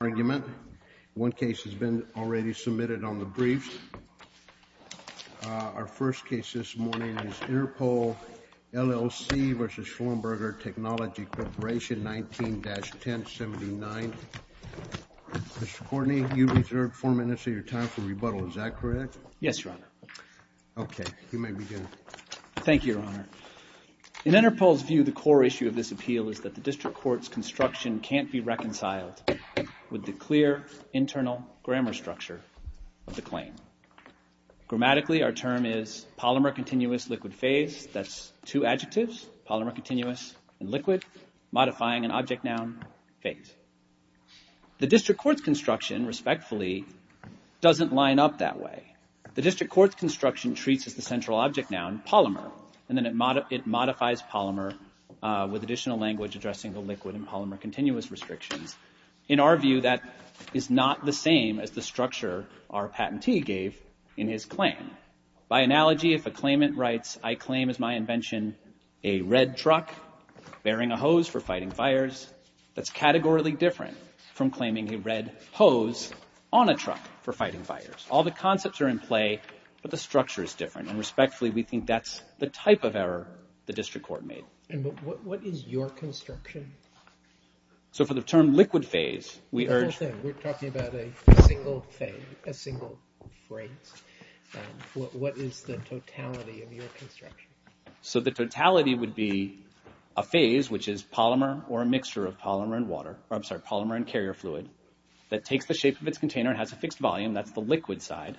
Thank you, Your Honor. In Interpol's view, the core issue of this appeal is that the District Court's construction, respectfully, doesn't line up that way. The District Court's construction treats as the central object noun, polymer, and then it modifies polymer with additional language addressing the liquid and polymer continuous restrictions. In our view, that is not the same as the structure our patentee gave in his claim. By analogy, if a claimant writes, I claim as my invention a red truck bearing a hose for fighting fires, that's categorically different from claiming a red hose on a truck for fighting fires. All the concepts are in play, but the structure is different. And respectfully, we think that's the type of error the District Court made. And what is your construction? So for the term liquid phase, we urge... We're talking about a single phase, a single phrase. What is the totality of your construction? So the totality would be a phase, which is polymer or a mixture of polymer and water, or I'm sorry, polymer and carrier fluid, that takes the shape of its container and has a fixed volume, that's the liquid side,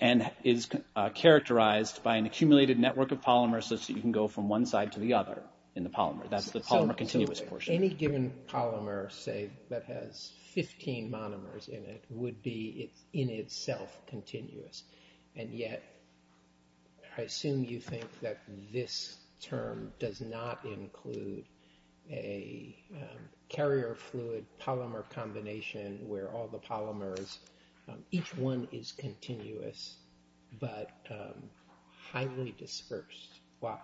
and is characterized by an accumulated network of polymers so that you can go from one side to the other in the polymer. That's the polymer continuous portion. Any given polymer, say, that has 15 monomers in it would be, in itself, continuous. And yet, I assume you think that this term does not include a carrier fluid polymer combination where all the polymers, each one is continuous, but highly dispersed. Why?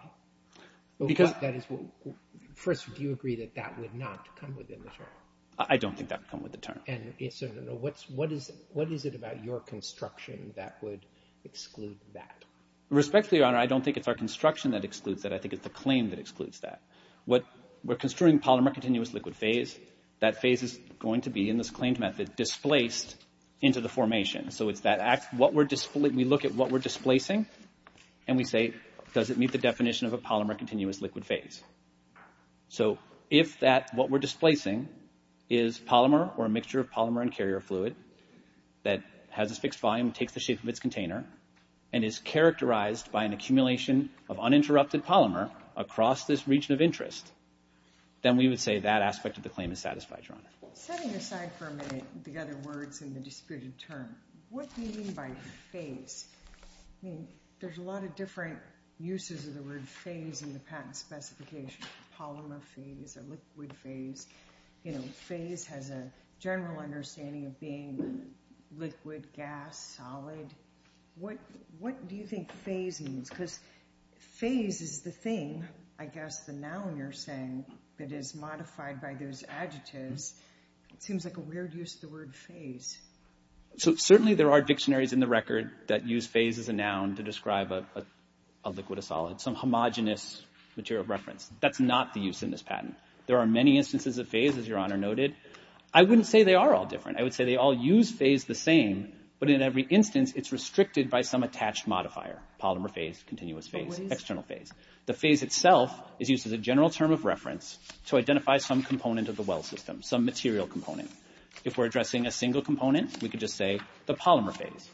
First, do you agree that that would not come within the term? I don't think that would come within the term. And so what is it about your construction that would exclude that? Respectfully, Your Honor, I don't think it's our construction that excludes that. I think it's the claim that excludes that. We're construing polymer continuous liquid phase. That phase is going to be, in this claimed method, displaced into the formation. So it's that act, we look at what we're displacing, and we say, does it meet the definition of a polymer continuous liquid phase? So if that, what we're displacing, is polymer or a mixture of polymer and carrier fluid that has a fixed volume, takes the shape of its container, and is characterized by an accumulation of uninterrupted polymer across this region of interest, then we would say that aspect of the claim is satisfied, Your Honor. Setting aside for a minute the other words in the disputed term, what do you mean by phase? I mean, there's a lot of different uses of the word phase in the patent specification, polymer phase, a liquid phase. You know, phase has a general understanding of being liquid, gas, solid. What do you think phase means? Because phase is the thing, I guess, the noun you're saying that is modified by those adjectives. It seems like a weird use of the word phase. So certainly there are dictionaries in the record that use phase as a noun to describe a liquid, a solid, some homogenous material of reference. That's not the use in this patent. There are many instances of phase, as Your Honor noted. I wouldn't say they are all different. I would say they all use phase the same, but in every instance it's restricted by some attached modifier, polymer phase, continuous phase, external phase. The phase itself is used as a general term of reference to identify some component of the well system, some material component. If we're addressing a single component, we could just say the polymer phase.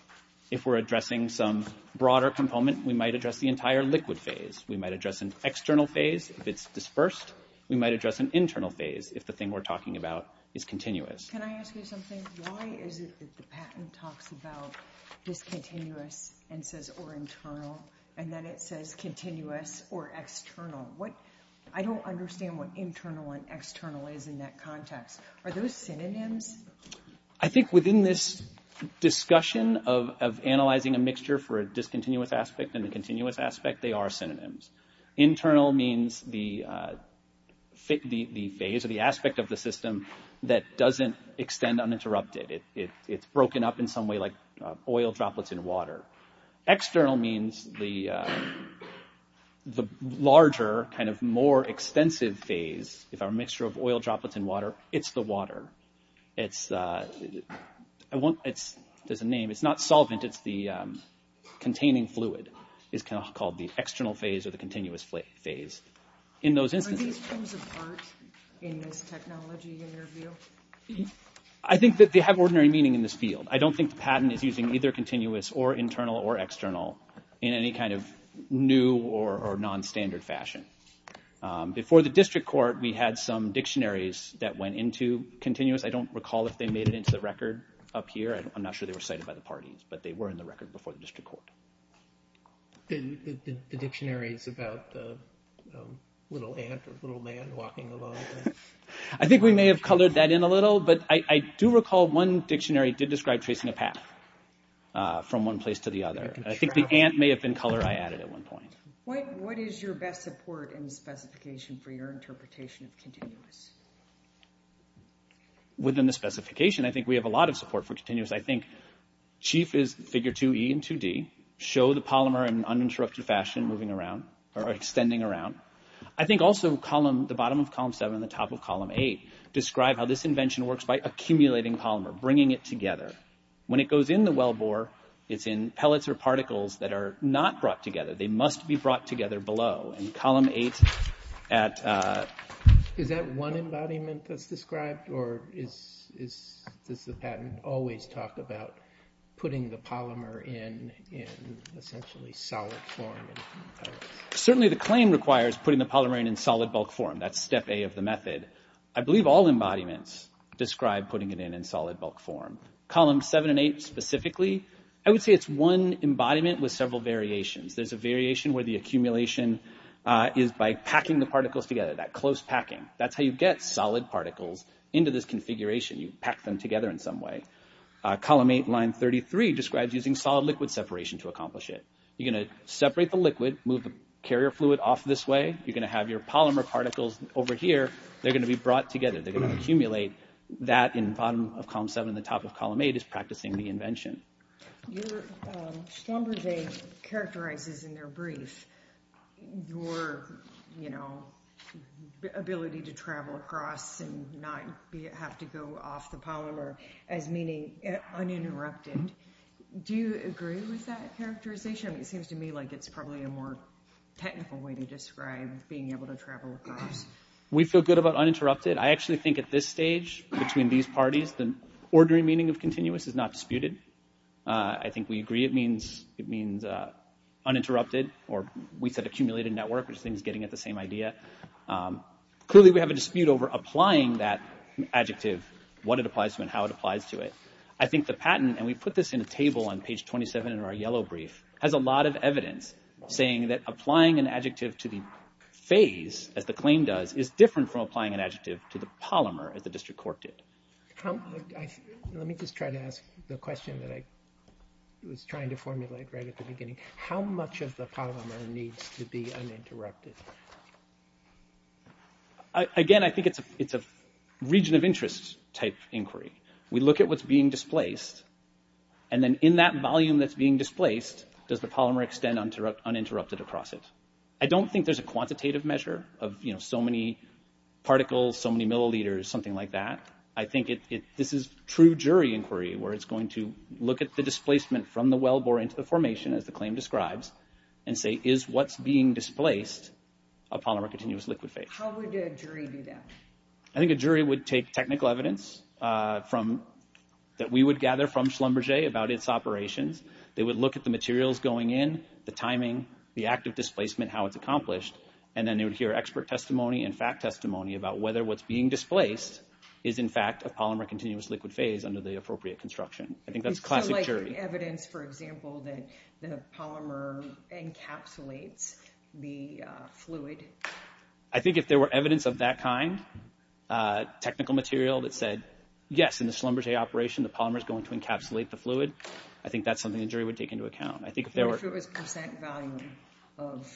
If we're addressing some broader component, we might address the entire liquid phase. We might address an external phase if it's dispersed. We might address an internal phase if the thing we're talking about is continuous. Can I ask you something? Why is it that the patent talks about discontinuous and says or internal, and then it says continuous or external? I don't understand what internal and external is in that context. Are those synonyms? I think within this discussion of analyzing a mixture for a discontinuous aspect and a continuous aspect, they are synonyms. Internal means the phase or the aspect of the system that doesn't extend uninterrupted. It's broken up in some way like oil droplets in water. External means the larger, more extensive phase. If I'm a mixture of oil droplets and water, it's the water. There's a name. It's not solvent. It's the containing fluid. It's called the external phase or the continuous phase. Are these terms in this technology in your view? I think that they have ordinary meaning in this field. I don't think the patent is using either continuous or internal or external in any kind of new or non-standard fashion. Before the district court, we had some dictionaries that went into continuous. I don't recall if they made it into the record up here. I'm not sure they were cited by the parties, but they were in the record before the district court. I think we may have colored that in a little, but I do recall one dictionary did describe tracing a path from one place to the other. I think the ant may have been color I added at one point. What is your best support and specification for your interpretation of continuous? Within the specification, I think we have a lot of support for continuous. I think chief is figure 2E and 2D. Show the polymer in an uninterrupted fashion moving around or extending around. I think also the bottom of column 7 and the top of column 8 describe how this invention works by accumulating polymer, bringing it together. When it goes in the wellbore, it's in pellets or particles that are not brought together. They must be brought together below. Is that one embodiment that's described, or does the patent always talk about putting the polymer in essentially solid form? Certainly the claim requires putting the polymer in solid bulk form. That's step A of the method. I believe all embodiments describe putting it in solid bulk form. Columns 7 and 8 specifically, I would say it's one embodiment with several variations. There's a particular accumulation is by packing the particles together, that close packing. That's how you get solid particles into this configuration. You pack them together in some way. Column 8, line 33 describes using solid liquid separation to accomplish it. You're going to separate the liquid, move the carrier fluid off this way. You're going to have your polymer particles over here. They're going to be brought together. They're going to accumulate that in bottom of column 7 and the top of column 8 is practicing the invention. Your number day characterizes in their brief your ability to travel across and not have to go off the polymer as meaning uninterrupted. Do you agree with that characterization? It seems to me like it's probably a more technical way to describe being able to travel across. We feel good about uninterrupted. I actually think at this stage between these parties, the ordinary meaning of continuous is not disputed. I think we agree it means uninterrupted or we said accumulated network, which I think is getting at the same idea. Clearly we have a dispute over applying that adjective, what it applies to and how it applies to it. I think the patent, and we put this in a table on page 27 in our yellow brief, has a lot of evidence saying that applying an adjective to the phase as the claim does is different from applying an adjective to the Let me just try to ask the question that I was trying to formulate right at the beginning. How much of the polymer needs to be uninterrupted? Again, I think it's a region of interest type inquiry. We look at what's being displaced and then in that volume that's being displaced, does the polymer extend uninterrupted across it? I don't think there's a quantitative measure of so many particles, so many milliliters, something like that. I think this is true jury inquiry, where it's going to look at the displacement from the wellbore into the formation, as the claim describes, and say is what's being displaced a polymer continuous liquid phase? How would a jury do that? I think a jury would take technical evidence that we would gather from Schlumberger about its operations. They would look at the materials going in, the timing, the active displacement, how it's accomplished, and then they would hear expert testimony and fact testimony about whether what's being displaced is in fact a polymer continuous liquid phase under the appropriate construction. I think that's classic jury. Evidence, for example, that the polymer encapsulates the fluid? I think if there were evidence of that kind, technical material that said, yes, in the Schlumberger operation the polymer is going to encapsulate the fluid, I think that's something jury would take into account. I think if there was percent volume of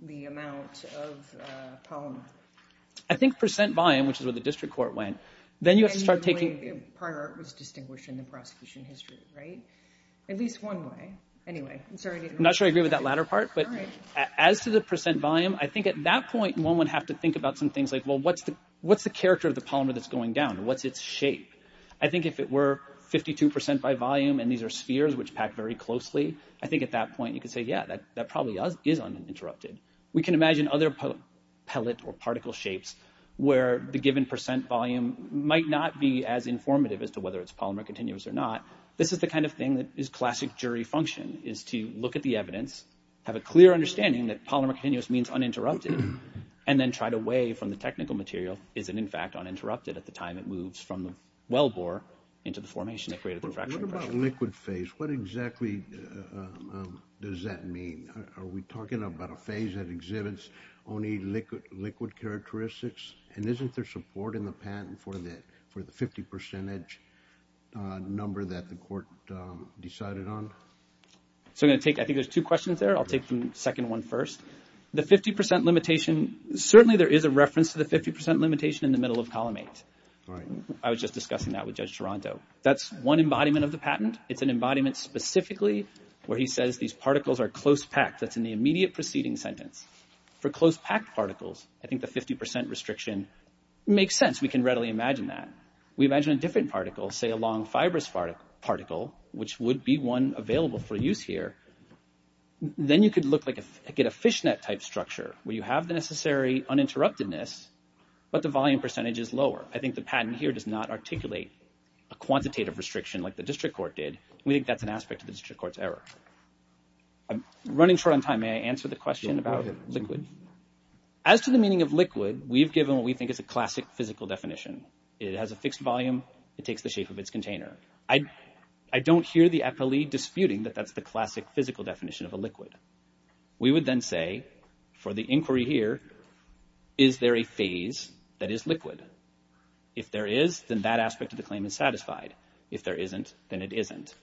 the amount of polymer. I think percent volume, which is where the district court went, then you have to start taking... Part was distinguished in the prosecution history, right? At least one way. Anyway, I'm sorry. Not sure I agree with that latter part, but as to the percent volume, I think at that point, one would have to think about some things like, well, what's the character of the polymer that's going down? What's its shape? I think if it were 52 percent by volume, and these are spheres which pack very closely, I think at that point you could say, yeah, that probably is uninterrupted. We can imagine other pellet or particle shapes where the given percent volume might not be as informative as to whether it's polymer continuous or not. This is the kind of thing that is classic jury function, is to look at the evidence, have a clear understanding that polymer continuous means uninterrupted, and then try to weigh from the technical material, is it in fact uninterrupted at the time it moves from the wellbore into the formation that created the fractional pressure. About liquid phase, what exactly does that mean? Are we talking about a phase that exhibits only liquid characteristics? And isn't there support in the patent for the 50 percentage number that the court decided on? So I'm going to take, I think there's two questions there. I'll take the second one first. The 50 percent limitation, certainly there is a reference to the 50 percent limitation in the middle of column eight. I was just discussing that with Judge Toronto. That's one embodiment of the patent. It's an embodiment specifically where he says these particles are close packed. That's in the immediate preceding sentence. For close packed particles, I think the 50 percent restriction makes sense. We can readily imagine that. We imagine a different particle, say a long fibrous particle, which would be one available for use here. Then you could look like, get a fishnet type structure where you have the necessary uninterruptedness, but the volume percentage is a quantitative restriction like the district court did. We think that's an aspect of the district court's error. I'm running short on time. May I answer the question about liquid? As to the meaning of liquid, we've given what we think is a classic physical definition. It has a fixed volume. It takes the shape of its container. I don't hear the appellee disputing that that's the classic physical definition of a liquid. We would then say, for the inquiry here, is there a phase that is liquid? If there is, then that aspect of the claim is satisfied. If there isn't, then it isn't.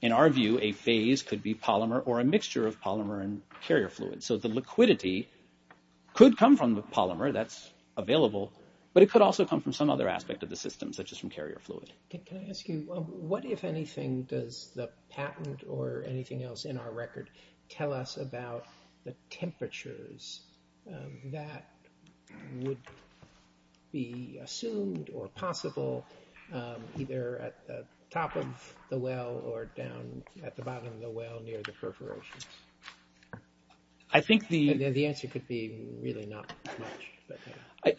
In our view, a phase could be polymer or a mixture of polymer and carrier fluid. The liquidity could come from the polymer that's available, but it could also come from some other aspect of the system such as from carrier fluid. Can I ask you, what, if anything, does the patent or anything else in our record tell us about the temperatures that would be assumed or possible either at the top of the well or down at the bottom of the well near the perforations? I think the answer could be really not much. I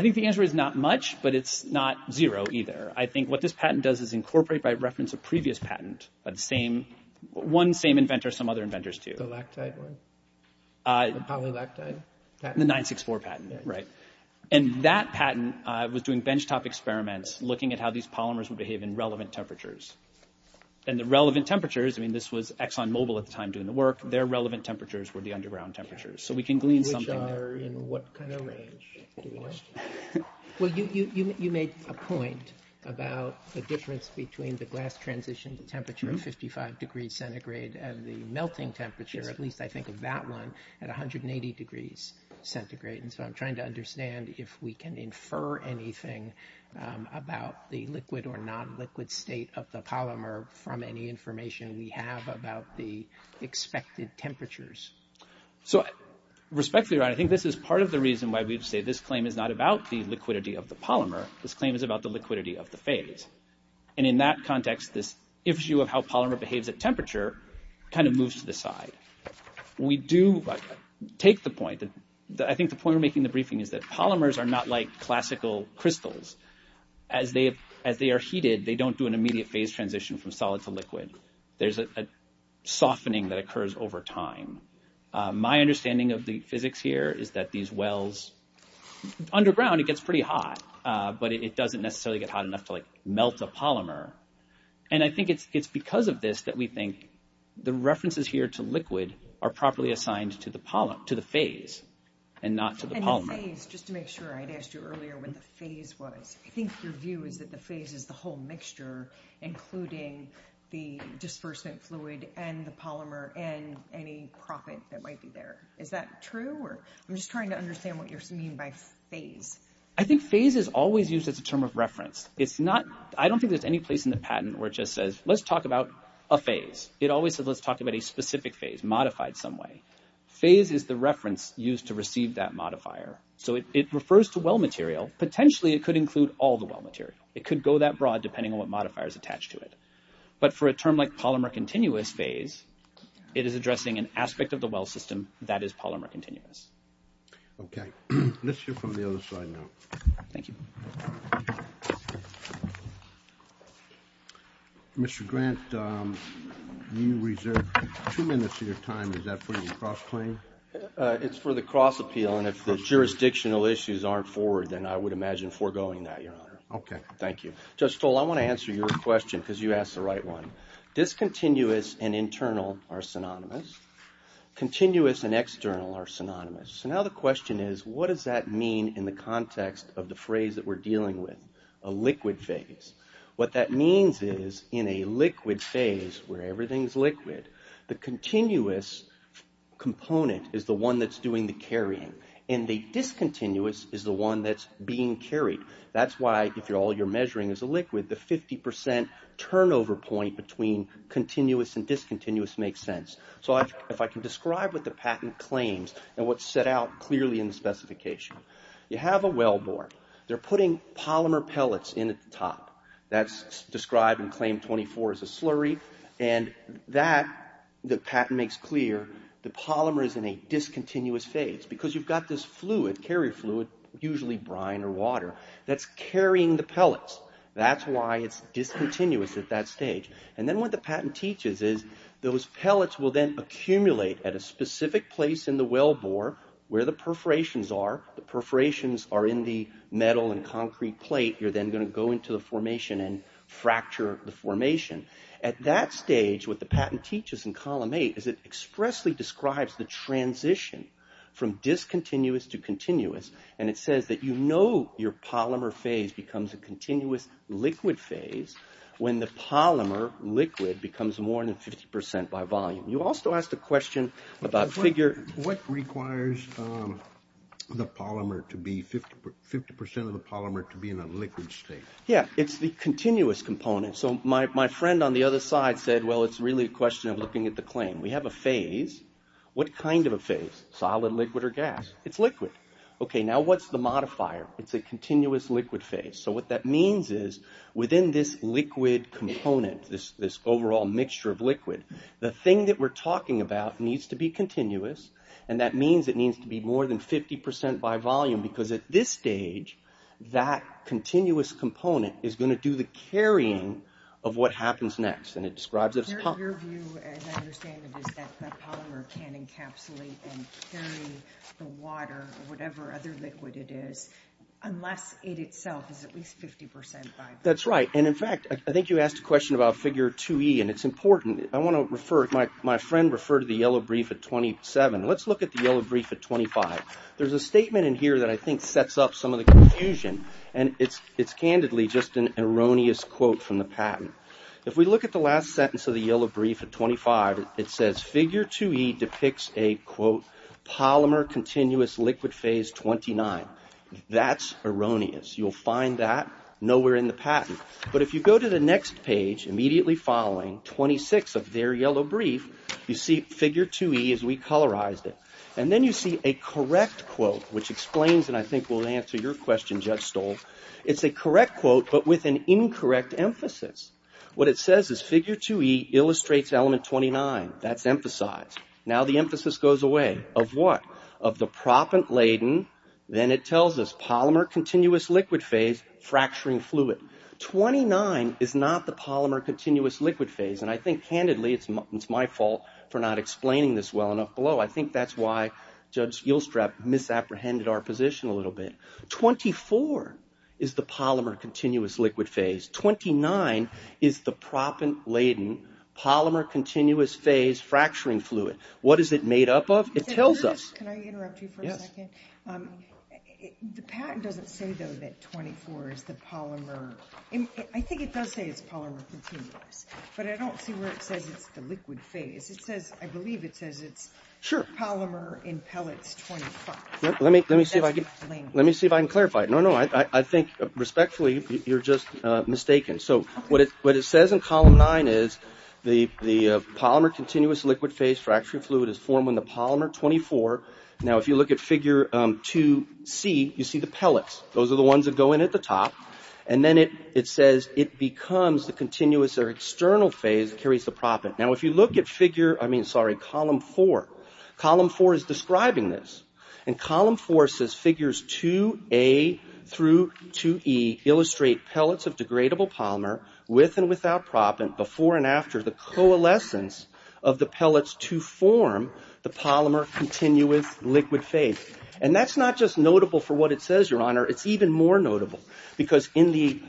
think the answer is not much, but it's not zero either. I think what this patent does is incorporate by reference a previous patent by the same, one same inventor, some other inventors too. The lactide one? The polylactide? The 964 patent, right. And that patent was doing benchtop experiments looking at how these polymers would behave in relevant temperatures. And the relevant temperatures, I mean, this was Exxon Mobil at the time doing the work, their relevant temperatures were the underground temperatures. So we can glean something there. Which are in what kind of range? Well, you made a point about the difference between the glass transition temperature of 55 degrees centigrade and the melting temperature, at least I think of that one, at 180 degrees centigrade. And so I'm trying to understand if we can infer anything about the liquid or non-liquid state of the polymer from any information we have about the expected temperatures. So respectfully, right, I think this is part of the reason why we'd say this claim is not about the liquidity of the polymer. This claim is about the liquidity of the phase. And in that context, this issue of how polymer behaves at temperature kind of moves to the side. We do take the point, I think the point we're making in the briefing is that polymers are not like classical crystals. As they are heated, they don't do an immediate phase transition from solid to liquid. There's a softening that occurs over time. My understanding of the physics here is that these wells, underground it gets pretty hot, but it doesn't necessarily get hot enough to like melt the polymer. And I think it's because of this that we think the references here to liquid are properly assigned to the phase and not to the polymer. And the phase, just to make sure, I had asked you earlier what the phase was. I think your view is that the phase is the whole mixture including the disbursement fluid and the polymer and any profit that might be there. Is that true? Or I'm just trying to understand what you mean by phase. I think phase is always used as a term of reference. It's not, I don't think there's any place in the patent where it just says let's talk about a phase. It always says let's talk about a specific phase modified some way. Phase is the reference used to receive that modifier. So it refers to well material. Potentially it could include all the well material. It could go that broad depending on what modifier is attached to it. But for a term like polymer continuous phase, it is addressing an Okay, let's hear from the other side now. Thank you. Mr. Grant, you reserve two minutes of your time. Is that for the cross-claim? It's for the cross-appeal and if the jurisdictional issues aren't forward then I would imagine foregoing that, your honor. Okay. Thank you. Judge Stoll, I want to answer your question because you asked the right one. Discontinuous and internal are synonymous. Continuous and external are synonymous. So now the question is what does that mean in the context of the phrase that we're dealing with? A liquid phase. What that means is in a liquid phase where everything's liquid, the continuous component is the one that's doing the carrying and the discontinuous is the one that's being carried. That's why if all you're measuring is a liquid, the 50% turnover point between continuous and discontinuous makes sense. So if I can describe what the patent claims and what's set out clearly in the specification. You have a well bore. They're putting polymer pellets in at the top. That's described in claim 24 as a slurry and that the patent makes clear the polymer is in a discontinuous phase because you've got this fluid, usually brine or water, that's carrying the pellets. That's why it's discontinuous at that stage. And then what the patent teaches is those pellets will then accumulate at a specific place in the well bore where the perforations are. The perforations are in the metal and concrete plate. You're then going to go into the formation and fracture the formation. At that stage what the patent teaches in column 8 is it expressly describes the transition from discontinuous to continuous and it says that you know your polymer phase becomes a continuous liquid phase when the polymer liquid becomes more than 50% by volume. You also asked a question about figure... What requires the polymer to be 50% of the polymer to be in a liquid state? Yeah, it's the continuous component. So my friend on the other side said, well, it's really a question of looking at the claim. We have a phase. What kind of a phase? Solid, liquid, or gas? It's liquid. Okay, now what's the modifier? It's a continuous liquid phase. So what that means is within this liquid component, this overall mixture of liquid, the thing that we're talking about needs to be continuous and that means it needs to be more than 50% by volume because at this stage that continuous component is going to do the carrying of what happens next and it describes it as polymer. Your view, as I understand it, is that that the water or whatever other liquid it is, unless it itself is at least 50% by volume. That's right and in fact, I think you asked a question about figure 2e and it's important. I want to refer, my friend referred to the yellow brief at 27. Let's look at the yellow brief at 25. There's a statement in here that I think sets up some of the confusion and it's candidly just an erroneous quote from the patent. If we look at the last sentence of the yellow brief at 25, it says figure 2e depicts a quote polymer continuous liquid phase 29. That's erroneous. You'll find that nowhere in the patent but if you go to the next page immediately following 26 of their yellow brief, you see figure 2e as we colorized it and then you see a correct quote which explains and I think will answer your question, Judge Stoll. It's a correct quote but with an incorrect emphasis. What it says is figure 2e illustrates element 29. That's emphasized. Now the emphasis goes away. Of what? Of the propent laden, then it tells us polymer continuous liquid phase fracturing fluid. 29 is not the polymer continuous liquid phase and I think candidly, it's my fault for not explaining this well enough below. I think that's why Judge Gilstrap misapprehended our position a little bit. 24 is the polymer continuous liquid phase. 29 is the propent laden polymer continuous phase fracturing fluid. What is it made up of? It tells us. Can I interrupt you for a second? The patent doesn't say though that 24 is the polymer. I think it does say it's polymer continuous but I don't see where it says it's the liquid phase. I believe it says it's polymer in pellets 25. Let me see if I can clarify it. No, no. I think respectfully you're just mistaken. So what it says in column 9 is the polymer continuous liquid phase fracturing fluid is formed when the polymer 24. Now if you look at figure 2c, you see the pellets. Those are the ones that go in at the top and then it says it becomes the column 4. Column 4 is describing this. And column 4 says figures 2a through 2e illustrate pellets of degradable polymer with and without propent before and after the coalescence of the pellets to form the polymer continuous liquid phase. And that's not just notable for what it says, Your Honor. It's even more notable because in the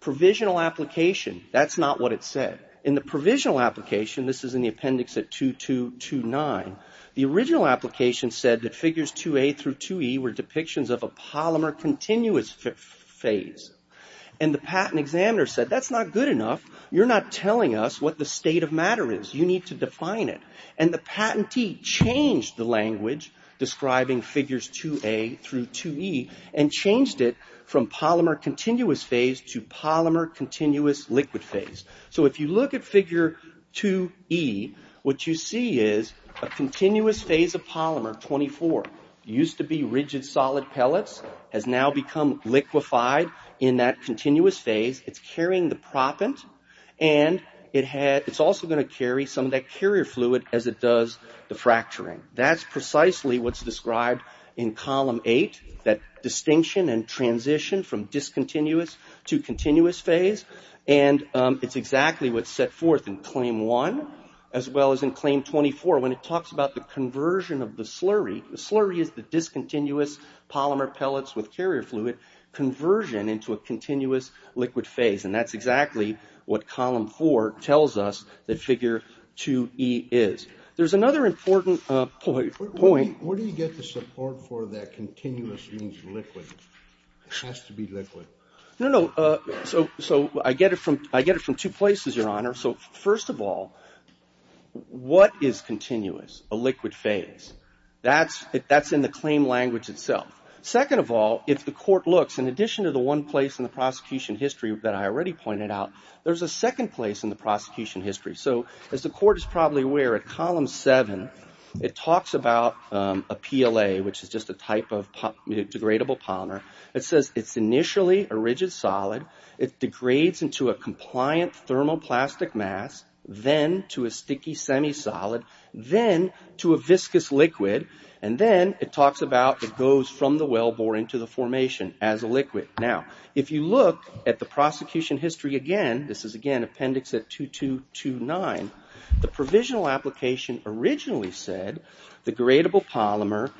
provisional application, that's not what it said. In the provisional application, this is in the appendix at 2229, the original application said that figures 2a through 2e were depictions of a polymer continuous phase. And the patent examiner said that's not good enough. You're not telling us what the state of matter is. You need to define it. And the patentee changed the language describing figures 2a through 2e and changed it from polymer continuous phase to polymer continuous liquid phase. So if you look at figure 2e, what you see is a continuous phase of polymer, 24, used to be rigid solid pellets, has now become liquefied in that continuous phase. It's carrying the propent and it's also going to carry some of that carrier fluid as it does the fracturing. That's precisely what's transitioned from discontinuous to continuous phase. And it's exactly what's set forth in claim one as well as in claim 24 when it talks about the conversion of the slurry. The slurry is the discontinuous polymer pellets with carrier fluid conversion into a continuous liquid phase. And that's exactly what column four tells us that figure 2e is. There's another important point. Where do you get the support for that continuous means liquid? It has to be liquid. No, no. So I get it from two places, your honor. So first of all, what is continuous? A liquid phase. That's in the claim language itself. Second of all, if the court looks, in addition to the one place in the prosecution history that I already pointed out, there's a second place in the PLA, which is just a type of degradable polymer. It says it's initially a rigid solid. It degrades into a compliant thermoplastic mass, then to a sticky semi-solid, then to a viscous liquid, and then it talks about it goes from the wellbore into the formation as a liquid. Now, if you look at the prosecution history again, this is again appendix 2229, the provisional application originally said the degradable polymer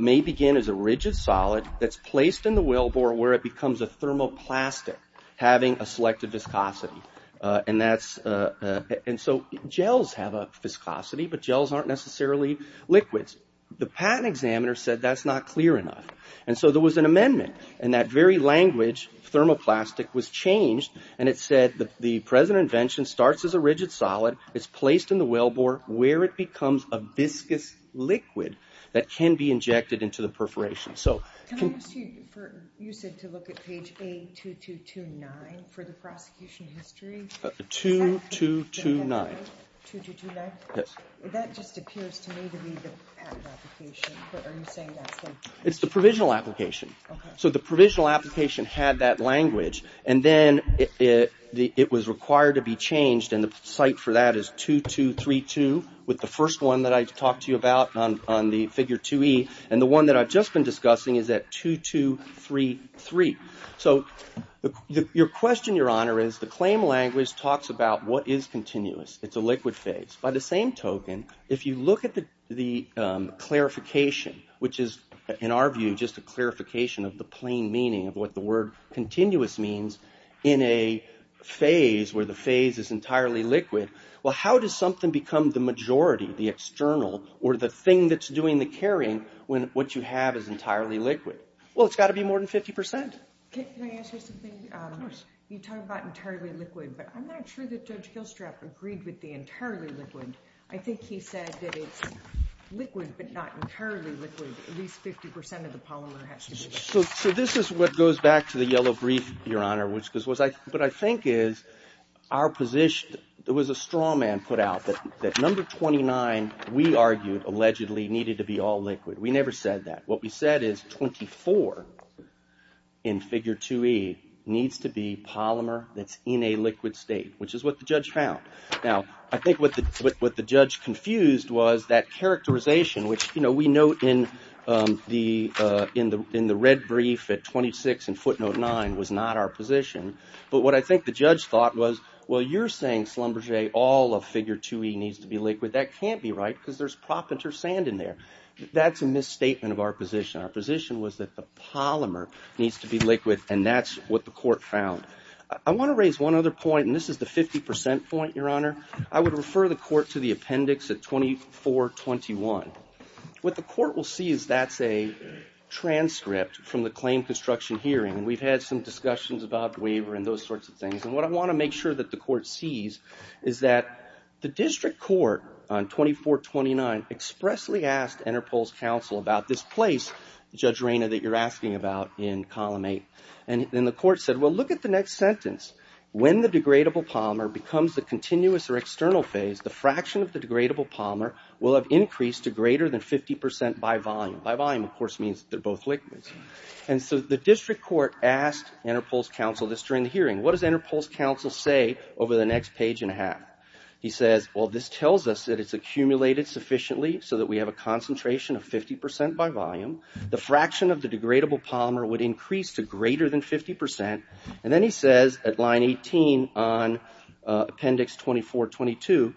may begin as a rigid solid that's placed in the wellbore where it becomes a thermoplastic, having a selective viscosity. And so gels have a viscosity, but gels aren't necessarily liquids. The patent examiner said that's not clear enough. And so there was an amendment, and that very language, thermoplastic, was changed, and it said the present invention starts as a rigid solid, it's placed in the wellbore where it becomes a viscous liquid that can be injected into the perforation. Can I ask you, you said to look at page A2229 for the prosecution history? 2229. 2229? Yes. That just appears to me to be the patent application. Are you saying that's the... It's the provisional application. Okay. So the provisional application had that language, and then it was required to be changed, and the site for that is 2232, with the first one that I talked to you about on the figure 2E, and the one that I've just been discussing is at 2233. So your question, Your Honor, is the claim language talks about what is continuous. It's a liquid phase. By the same token, if you look at the clarification, which is, in our view, just a clarification of the plain meaning of what the word continuous means in a phase where the phase is entirely liquid, well, how does something become the majority, the external, or the thing that's doing the carrying when what you have is entirely liquid? Well, it's got to be more than 50 percent. Can I ask you something? Of course. You talk about entirely liquid, but I'm not sure that Judge Hillstrap agreed with the entirely liquid. I think he said that it's liquid, but not entirely liquid. At least 50 percent of the polymer has to be liquid. So this is what goes back to the yellow brief, Your Honor, but I think is our position. There was a straw man put out that number 29, we argued, allegedly needed to be all liquid. We never said that. What we said is 24 in figure 2E needs to be liquid. What the judge confused was that characterization, which we note in the red brief at 26 in footnote 9 was not our position, but what I think the judge thought was, well, you're saying, Schlumberger, all of figure 2E needs to be liquid. That can't be right because there's propinter sand in there. That's a misstatement of our position. Our position was that the polymer needs to be liquid, and that's what the court found. I want to raise one other point, and this is the 50 percent point, Your Honor. I would refer the court to the appendix at 2421. What the court will see is that's a transcript from the claim construction hearing, and we've had some discussions about the waiver and those sorts of things, and what I want to make sure that the court sees is that the district court on 2429 expressly asked Interpol's counsel about this place, Judge Reyna, that you're asking about in column 8, and then the court said, well, look at the next sentence. When the degradable polymer becomes the continuous or external phase, the fraction of the degradable polymer will have increased to greater than 50 percent by volume. By volume, of course, means they're both liquids, and so the district court asked Interpol's counsel this during the hearing. What does Interpol's counsel say over the next page and a half? He says, well, this tells us that it's accumulated sufficiently so that we have a concentration of 50 percent by volume. The fraction of the degradable polymer would increase to greater than 50 percent, and then he says at line 18 on appendix 2422,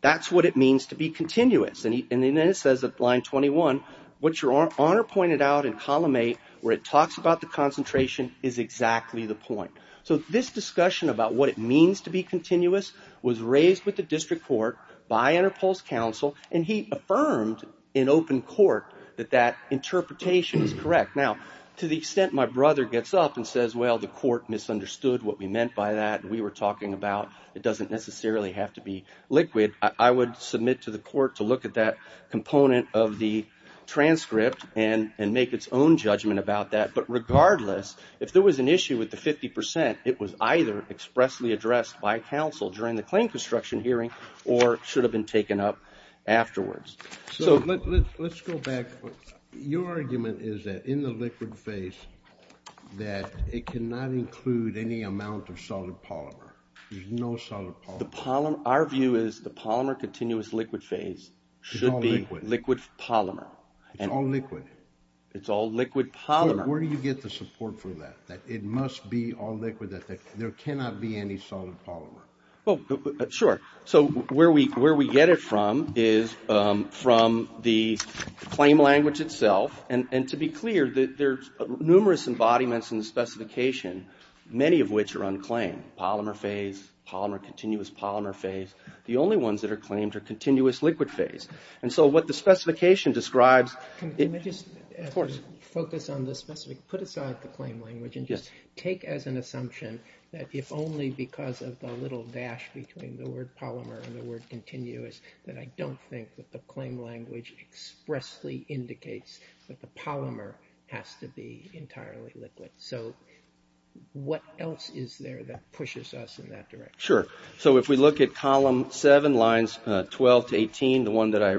that's what it means to be continuous, and then it says at line 21, what Your Honor pointed out in column 8 where it talks about the concentration is exactly the point. So this discussion about what it means to be continuous was raised with the district court by Interpol's counsel, and he affirmed in open court that that interpretation is correct. Now, to the extent my brother gets up and says, well, the court misunderstood what we meant by that, and we were talking about it doesn't necessarily have to be liquid, I would submit to the court to look at that component of the transcript and make its own judgment about that. But regardless, if there was an issue with the 50 percent, it was either expressly addressed by counsel during the trial or it should have been taken up afterwards. So let's go back. Your argument is that in the liquid phase that it cannot include any amount of solid polymer. There's no solid polymer. Our view is the polymer continuous liquid phase should be liquid polymer. It's all liquid. It's all liquid polymer. Where do you get the support for that, that it must be all liquid, that there cannot be any solid polymer? Well, sure. So where we get it from is from the claim language itself. And to be clear, there's numerous embodiments in the specification, many of which are unclaimed. Polymer phase, polymer continuous polymer phase. The only ones that are claimed are continuous liquid phase. And so what the specification describes... Can we just focus on the specific, put aside the claim language and just take as an assumption that if only because of the little dash between the word polymer and the word continuous, that I don't think that the claim language expressly indicates that the polymer has to be entirely liquid. So what else is there that pushes us in that direction? Sure. So if we look at column seven, lines 12 to 18, the one that I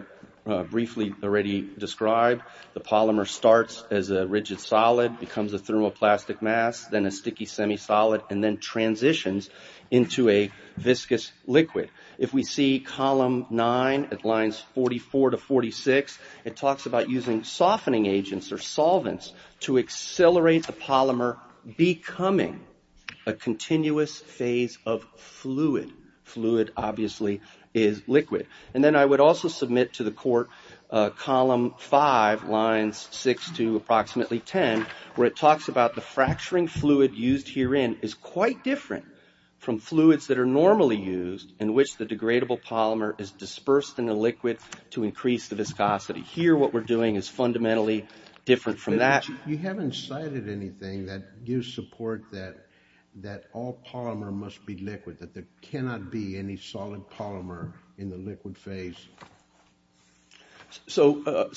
briefly already described, the polymer starts as a rigid solid, becomes a thermoplastic mass, then a sticky semi-solid, and then transitions into a viscous liquid. If we see column nine at lines 44 to 46, it talks about using softening agents or solvents to accelerate the polymer becoming a continuous phase of fluid. Fluid, obviously, is liquid. And then I would also submit to the five lines six to approximately 10, where it talks about the fracturing fluid used herein is quite different from fluids that are normally used in which the degradable polymer is dispersed in a liquid to increase the viscosity. Here, what we're doing is fundamentally different from that. You haven't cited anything that gives support that all polymer must be liquid, that there cannot be any solid polymer in the liquid phase. So,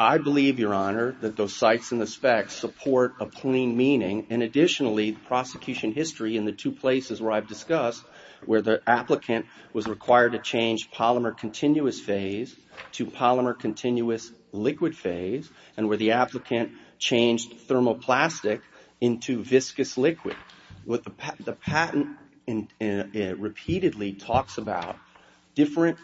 I believe, Your Honor, that those sites and the specs support a clean meaning. And additionally, the prosecution history in the two places where I've discussed, where the applicant was required to change polymer continuous phase to polymer continuous liquid phase, and where the applicant changed thermoplastic into viscous liquid. What the patent repeatedly talks about different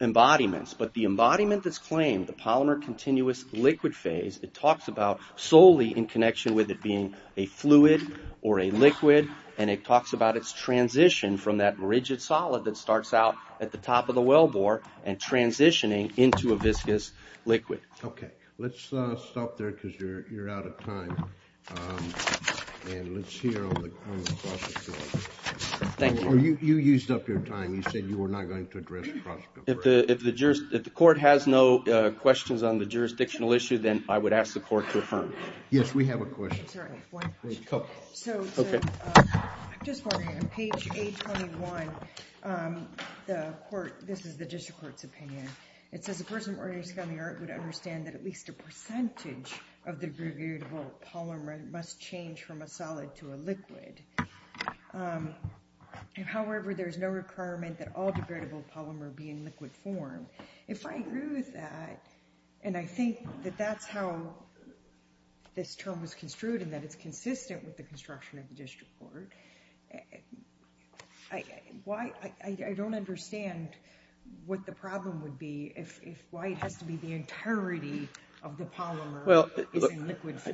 embodiments, but the embodiment that's claimed, the polymer continuous liquid phase, it talks about solely in connection with it being a fluid or a liquid. And it talks about its transition from that rigid solid that starts out at the top of the wellbore and transitioning into a viscous liquid. Okay. Let's stop there because you're out of time. And let's hear on the prosecution. Thank you. You used up your time. You said you were not going to address the prosecution. If the court has no questions on the jurisdictional issue, then I would ask the court to affirm. Yes, we have a question. I'm sorry, one question. A couple. So, I'm just wondering, on page 821, the court, this is the district court's opinion, it says the person organizing on the art would understand that at least a percentage of the degradable polymer must change from a solid to a liquid. However, there's no requirement that all degradable polymer be in liquid form. If I agree with that, and I think that that's how this term was construed, and that it's consistent with the construction of the district court, why, I don't understand what the problem would be if, why it has to be the entirety of the polymer.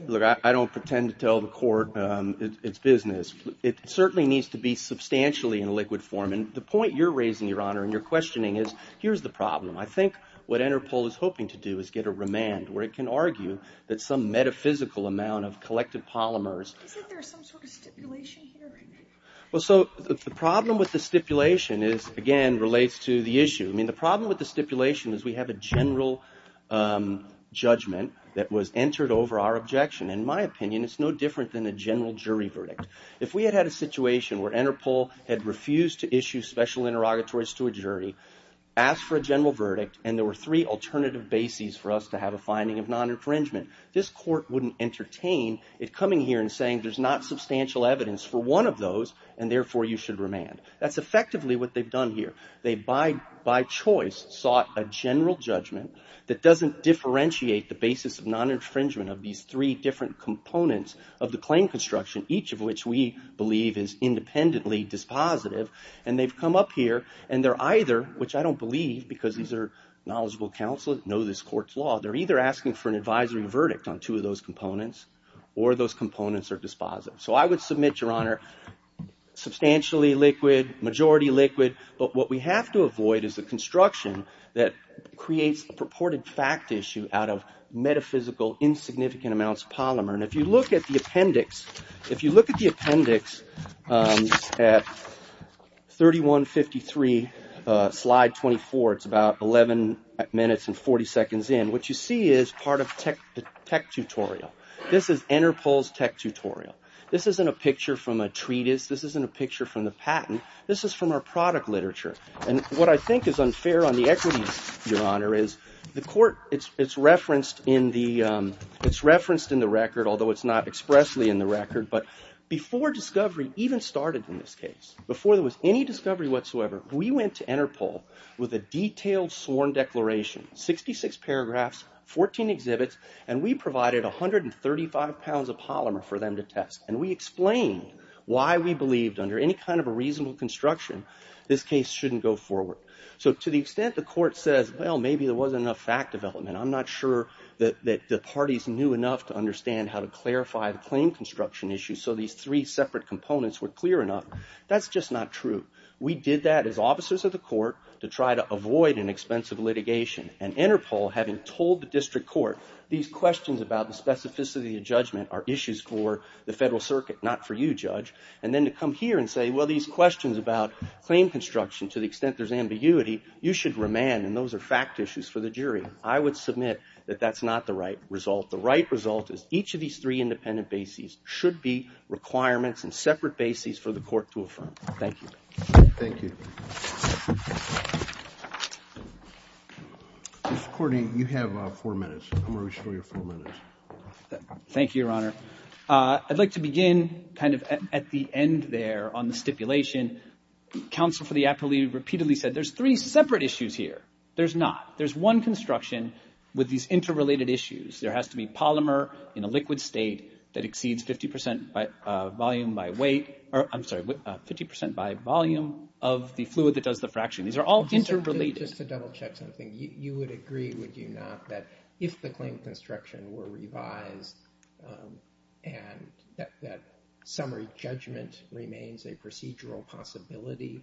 Look, I don't pretend to tell the court it's business. It certainly needs to be substantially in liquid form. And the point you're raising, Your Honor, and you're questioning is, here's the problem. I think what Interpol is hoping to do is get a remand where it can argue that some metaphysical amount of collective polymers... Isn't there some sort of stipulation here? Well, so the problem with the stipulation is, again, relates to the issue. I mean, problem with the stipulation is we have a general judgment that was entered over our objection. In my opinion, it's no different than a general jury verdict. If we had had a situation where Interpol had refused to issue special interrogatories to a jury, asked for a general verdict, and there were three alternative bases for us to have a finding of non-infringement, this court wouldn't entertain it coming here and saying there's not substantial evidence for one of those, and therefore you should remand. That's effectively what they've done here. They, by choice, sought a general judgment that doesn't differentiate the basis of non-infringement of these three different components of the claim construction, each of which we believe is independently dispositive. And they've come up here, and they're either, which I don't believe because these are knowledgeable counselors, know this court's law, they're either asking for an advisory verdict on two of those components, or those components are dispositive. So I would your honor, substantially liquid, majority liquid, but what we have to avoid is the construction that creates purported fact issue out of metaphysical insignificant amounts of polymer. And if you look at the appendix, if you look at the appendix at 3153 slide 24, it's about 11 minutes and 40 seconds in, what you see is part of the tech tutorial. This is Interpol's tech tutorial. This isn't a picture from a treatise. This isn't a picture from the patent. This is from our product literature. And what I think is unfair on the equity, your honor, is the court, it's referenced in the record, although it's not expressly in the record, but before discovery even started in this case, before there was any discovery whatsoever, we went to Interpol with a detailed sworn declaration, 66 paragraphs, 14 exhibits, and we provided 135 pounds of polymer for them to test. And we explained why we believed under any kind of a reasonable construction, this case shouldn't go forward. So to the extent the court says, well, maybe there wasn't enough fact development. I'm not sure that the parties knew enough to understand how to clarify the claim construction issue. So these three separate components were clear enough. That's just not true. We did that as officers of the court to try to questions about the specificity of judgment are issues for the federal circuit, not for you, judge. And then to come here and say, well, these questions about claim construction, to the extent there's ambiguity, you should remand. And those are fact issues for the jury. I would submit that that's not the right result. The right result is each of these three independent bases should be requirements and separate bases for the court to affirm. Thank you. Thank you. Mr. Courtney, you have four minutes. I'm going to show you four minutes. Thank you, Your Honor. I'd like to begin kind of at the end there on the stipulation. Counsel for the appellee repeatedly said there's three separate issues here. There's not. There's one construction with these interrelated issues. There has to be polymer in a liquid state that 50 percent by volume of the fluid that does the fraction. These are all interrelated. Just to double check something, you would agree, would you not, that if the claim construction were revised and that summary judgment remains a procedural possibility,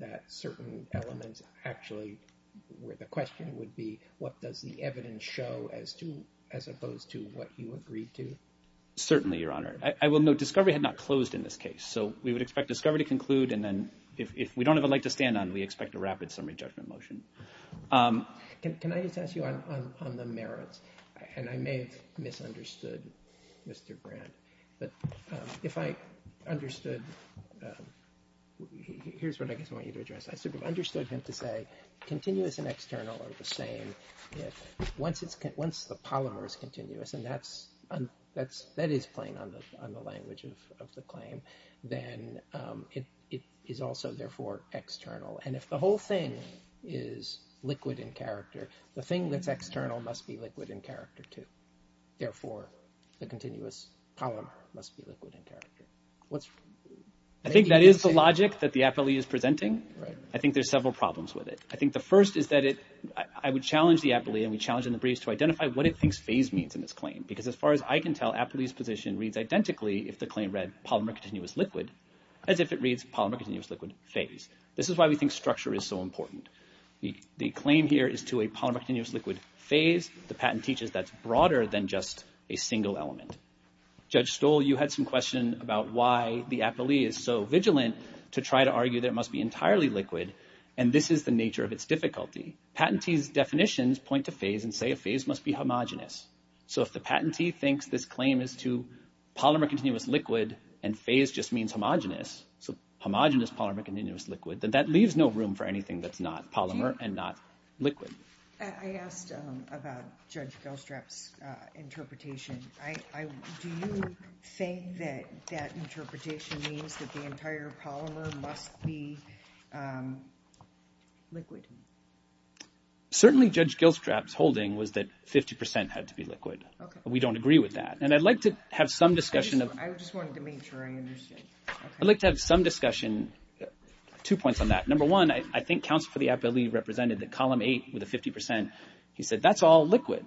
that certain elements actually where the question would be, what does the evidence show as opposed to what you agreed to? Certainly, Your Honor. I will note discovery had not closed in this case. So we would expect discovery to conclude. And then if we don't have a light to stand on, we expect a rapid summary judgment motion. Can I just ask you on the merits? And I may have misunderstood Mr. Brandt. But if I understood, here's what I guess I want you to address. I sort of understood him to say continuous and external are the same. Once the polymer is continuous, and that is playing on the language of the claim, then it is also therefore external. And if the whole thing is liquid in character, the thing that's external must be liquid in character too. Therefore, the continuous polymer must be liquid in character. I think that is the logic that the appellee is presenting. I think there's several problems with it. I think the first is that I would challenge the appellee and we challenge in the briefs to identify what it thinks phase means in this claim. Because as far as I can tell, appellee's position reads identically if the claim read polymer continuous liquid as if it reads polymer continuous liquid phase. This is why we think structure is so important. The claim here is to a polymer continuous liquid phase. The patent teaches that's broader than just a single element. Judge Stoll, you had some question about why the appellee is so vigilant to try to argue that it must be entirely liquid, and this is the nature of its difficulty. Patentee's definitions point to phase and say a phase must be homogenous. So if the patentee thinks this claim is to polymer continuous liquid and phase just means homogenous, so homogenous polymer continuous liquid, then that leaves no room for anything that's not polymer and not liquid. I asked about Judge Goldstrap's interpretation. Do you think that interpretation means that the entire polymer must be liquid? Certainly, Judge Goldstrap's holding was that 50% had to be liquid. We don't agree with that, and I'd like to have some discussion. I just wanted to make sure I understood. I'd like to have some discussion. Two points on that. Number one, I think counsel for the appellee represented that column eight with a 50%. He said that's all liquid.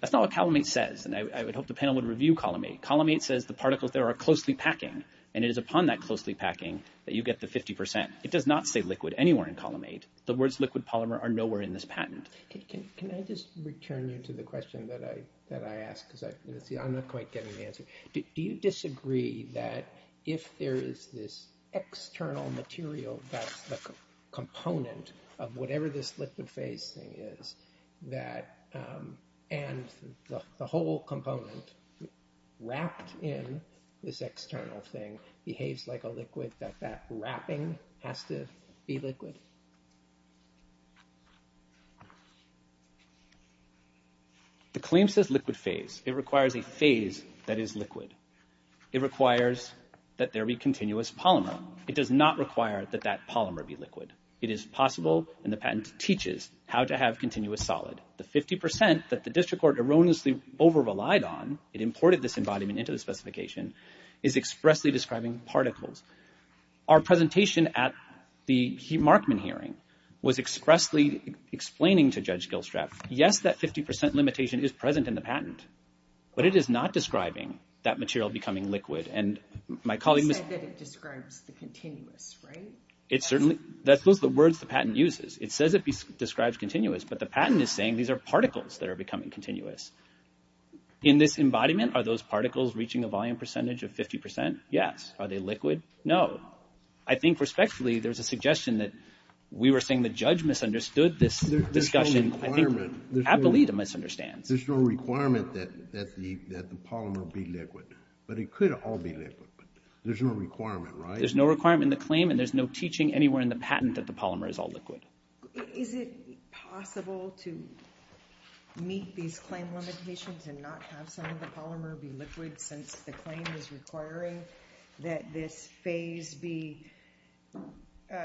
That's not what column eight says, and I would hope the panel would review column eight. Column eight says the particles there are closely packing, and it is upon that closely packing that you get the 50%. It does not say liquid anywhere in column eight. The words liquid polymer are nowhere in this patent. Can I just return you to the question that I asked because I'm not quite getting the answer. Do you disagree that if there is this external material that's the in this external thing behaves like a liquid that that wrapping has to be liquid? The claim says liquid phase. It requires a phase that is liquid. It requires that there be continuous polymer. It does not require that that polymer be liquid. It is possible, and the patent teaches how to have continuous solid. The 50% that the district court erroneously over-relied on, it imported this embodiment into the specification, is expressly describing particles. Our presentation at the Markman hearing was expressly explaining to Judge Gilstrap, yes, that 50% limitation is present in the patent, but it is not describing that material becoming liquid, and my colleague said that it describes the continuous, right? It certainly, those are the words the patent uses. It says it describes continuous, but the patent is saying these are particles that are becoming continuous. In this embodiment, are those particles reaching a volume percentage of 50%? Yes. Are they liquid? No. I think, respectfully, there's a suggestion that we were saying the judge misunderstood this discussion. I think Appolita misunderstands. There's no requirement that the polymer be liquid, but it could all be liquid. There's no requirement, right? There's no requirement in the claim, and there's no teaching anywhere in the patent that the polymer is all liquid. Is it possible to meet these claim limitations and not have some of the polymer be liquid since the claim is requiring that this phase be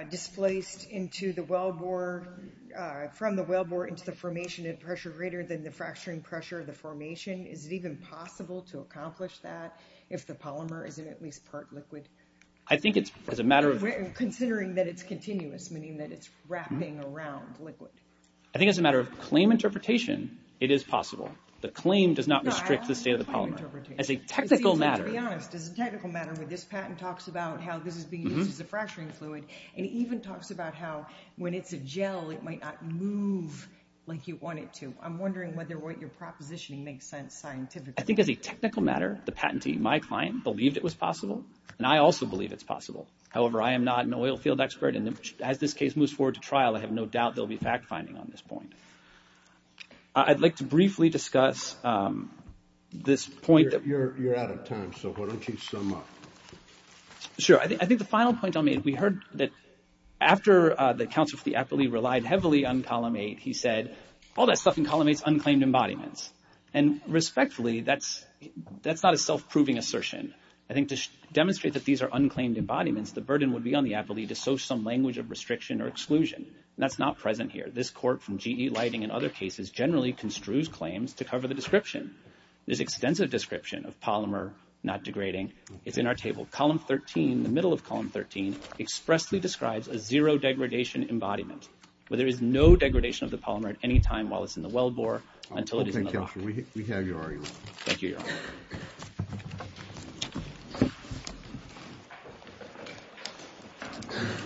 displaced into the wellbore, from the wellbore into the formation at pressure greater than the fracturing pressure of the formation? Is it even possible to accomplish that if the polymer isn't at least part liquid? I think it's as a matter of- Considering that it's continuous, meaning that it's wrapping around liquid. I think as a matter of claim interpretation, it is possible. The claim does not restrict the state of the polymer. As a technical matter- To be honest, as a technical matter, when this patent talks about how this is being used as a fracturing fluid, and even talks about how when it's a gel, it might not move like you want it to. I'm wondering whether what your proposition makes sense scientifically. I think as a technical matter, the patentee, my client, believed it was possible, and I also believe it's possible. However, I am not an oil field expert, and as this case moves forward to trial, I have no doubt there'll be fact-finding on this point. I'd like to briefly discuss this point that- You're out of time, so why don't you sum up? Sure. I think the final point I'll make, we heard that after the counsel for the appellee relied heavily on column eight, he said, all that stuff in column eight's unclaimed embodiments. Respectfully, that's not a self-proving assertion. I think to demonstrate that these are unclaimed embodiments, the burden would be on the appellee to show some language of restriction or exclusion, and that's not present here. This court, from GE Lighting and other cases, generally construes claims to cover the description. There's extensive description of polymer not degrading. It's in our table. Column 13, the middle of column 13, expressly describes a zero degradation embodiment, where there is no degradation of the polymer at any time while it's in the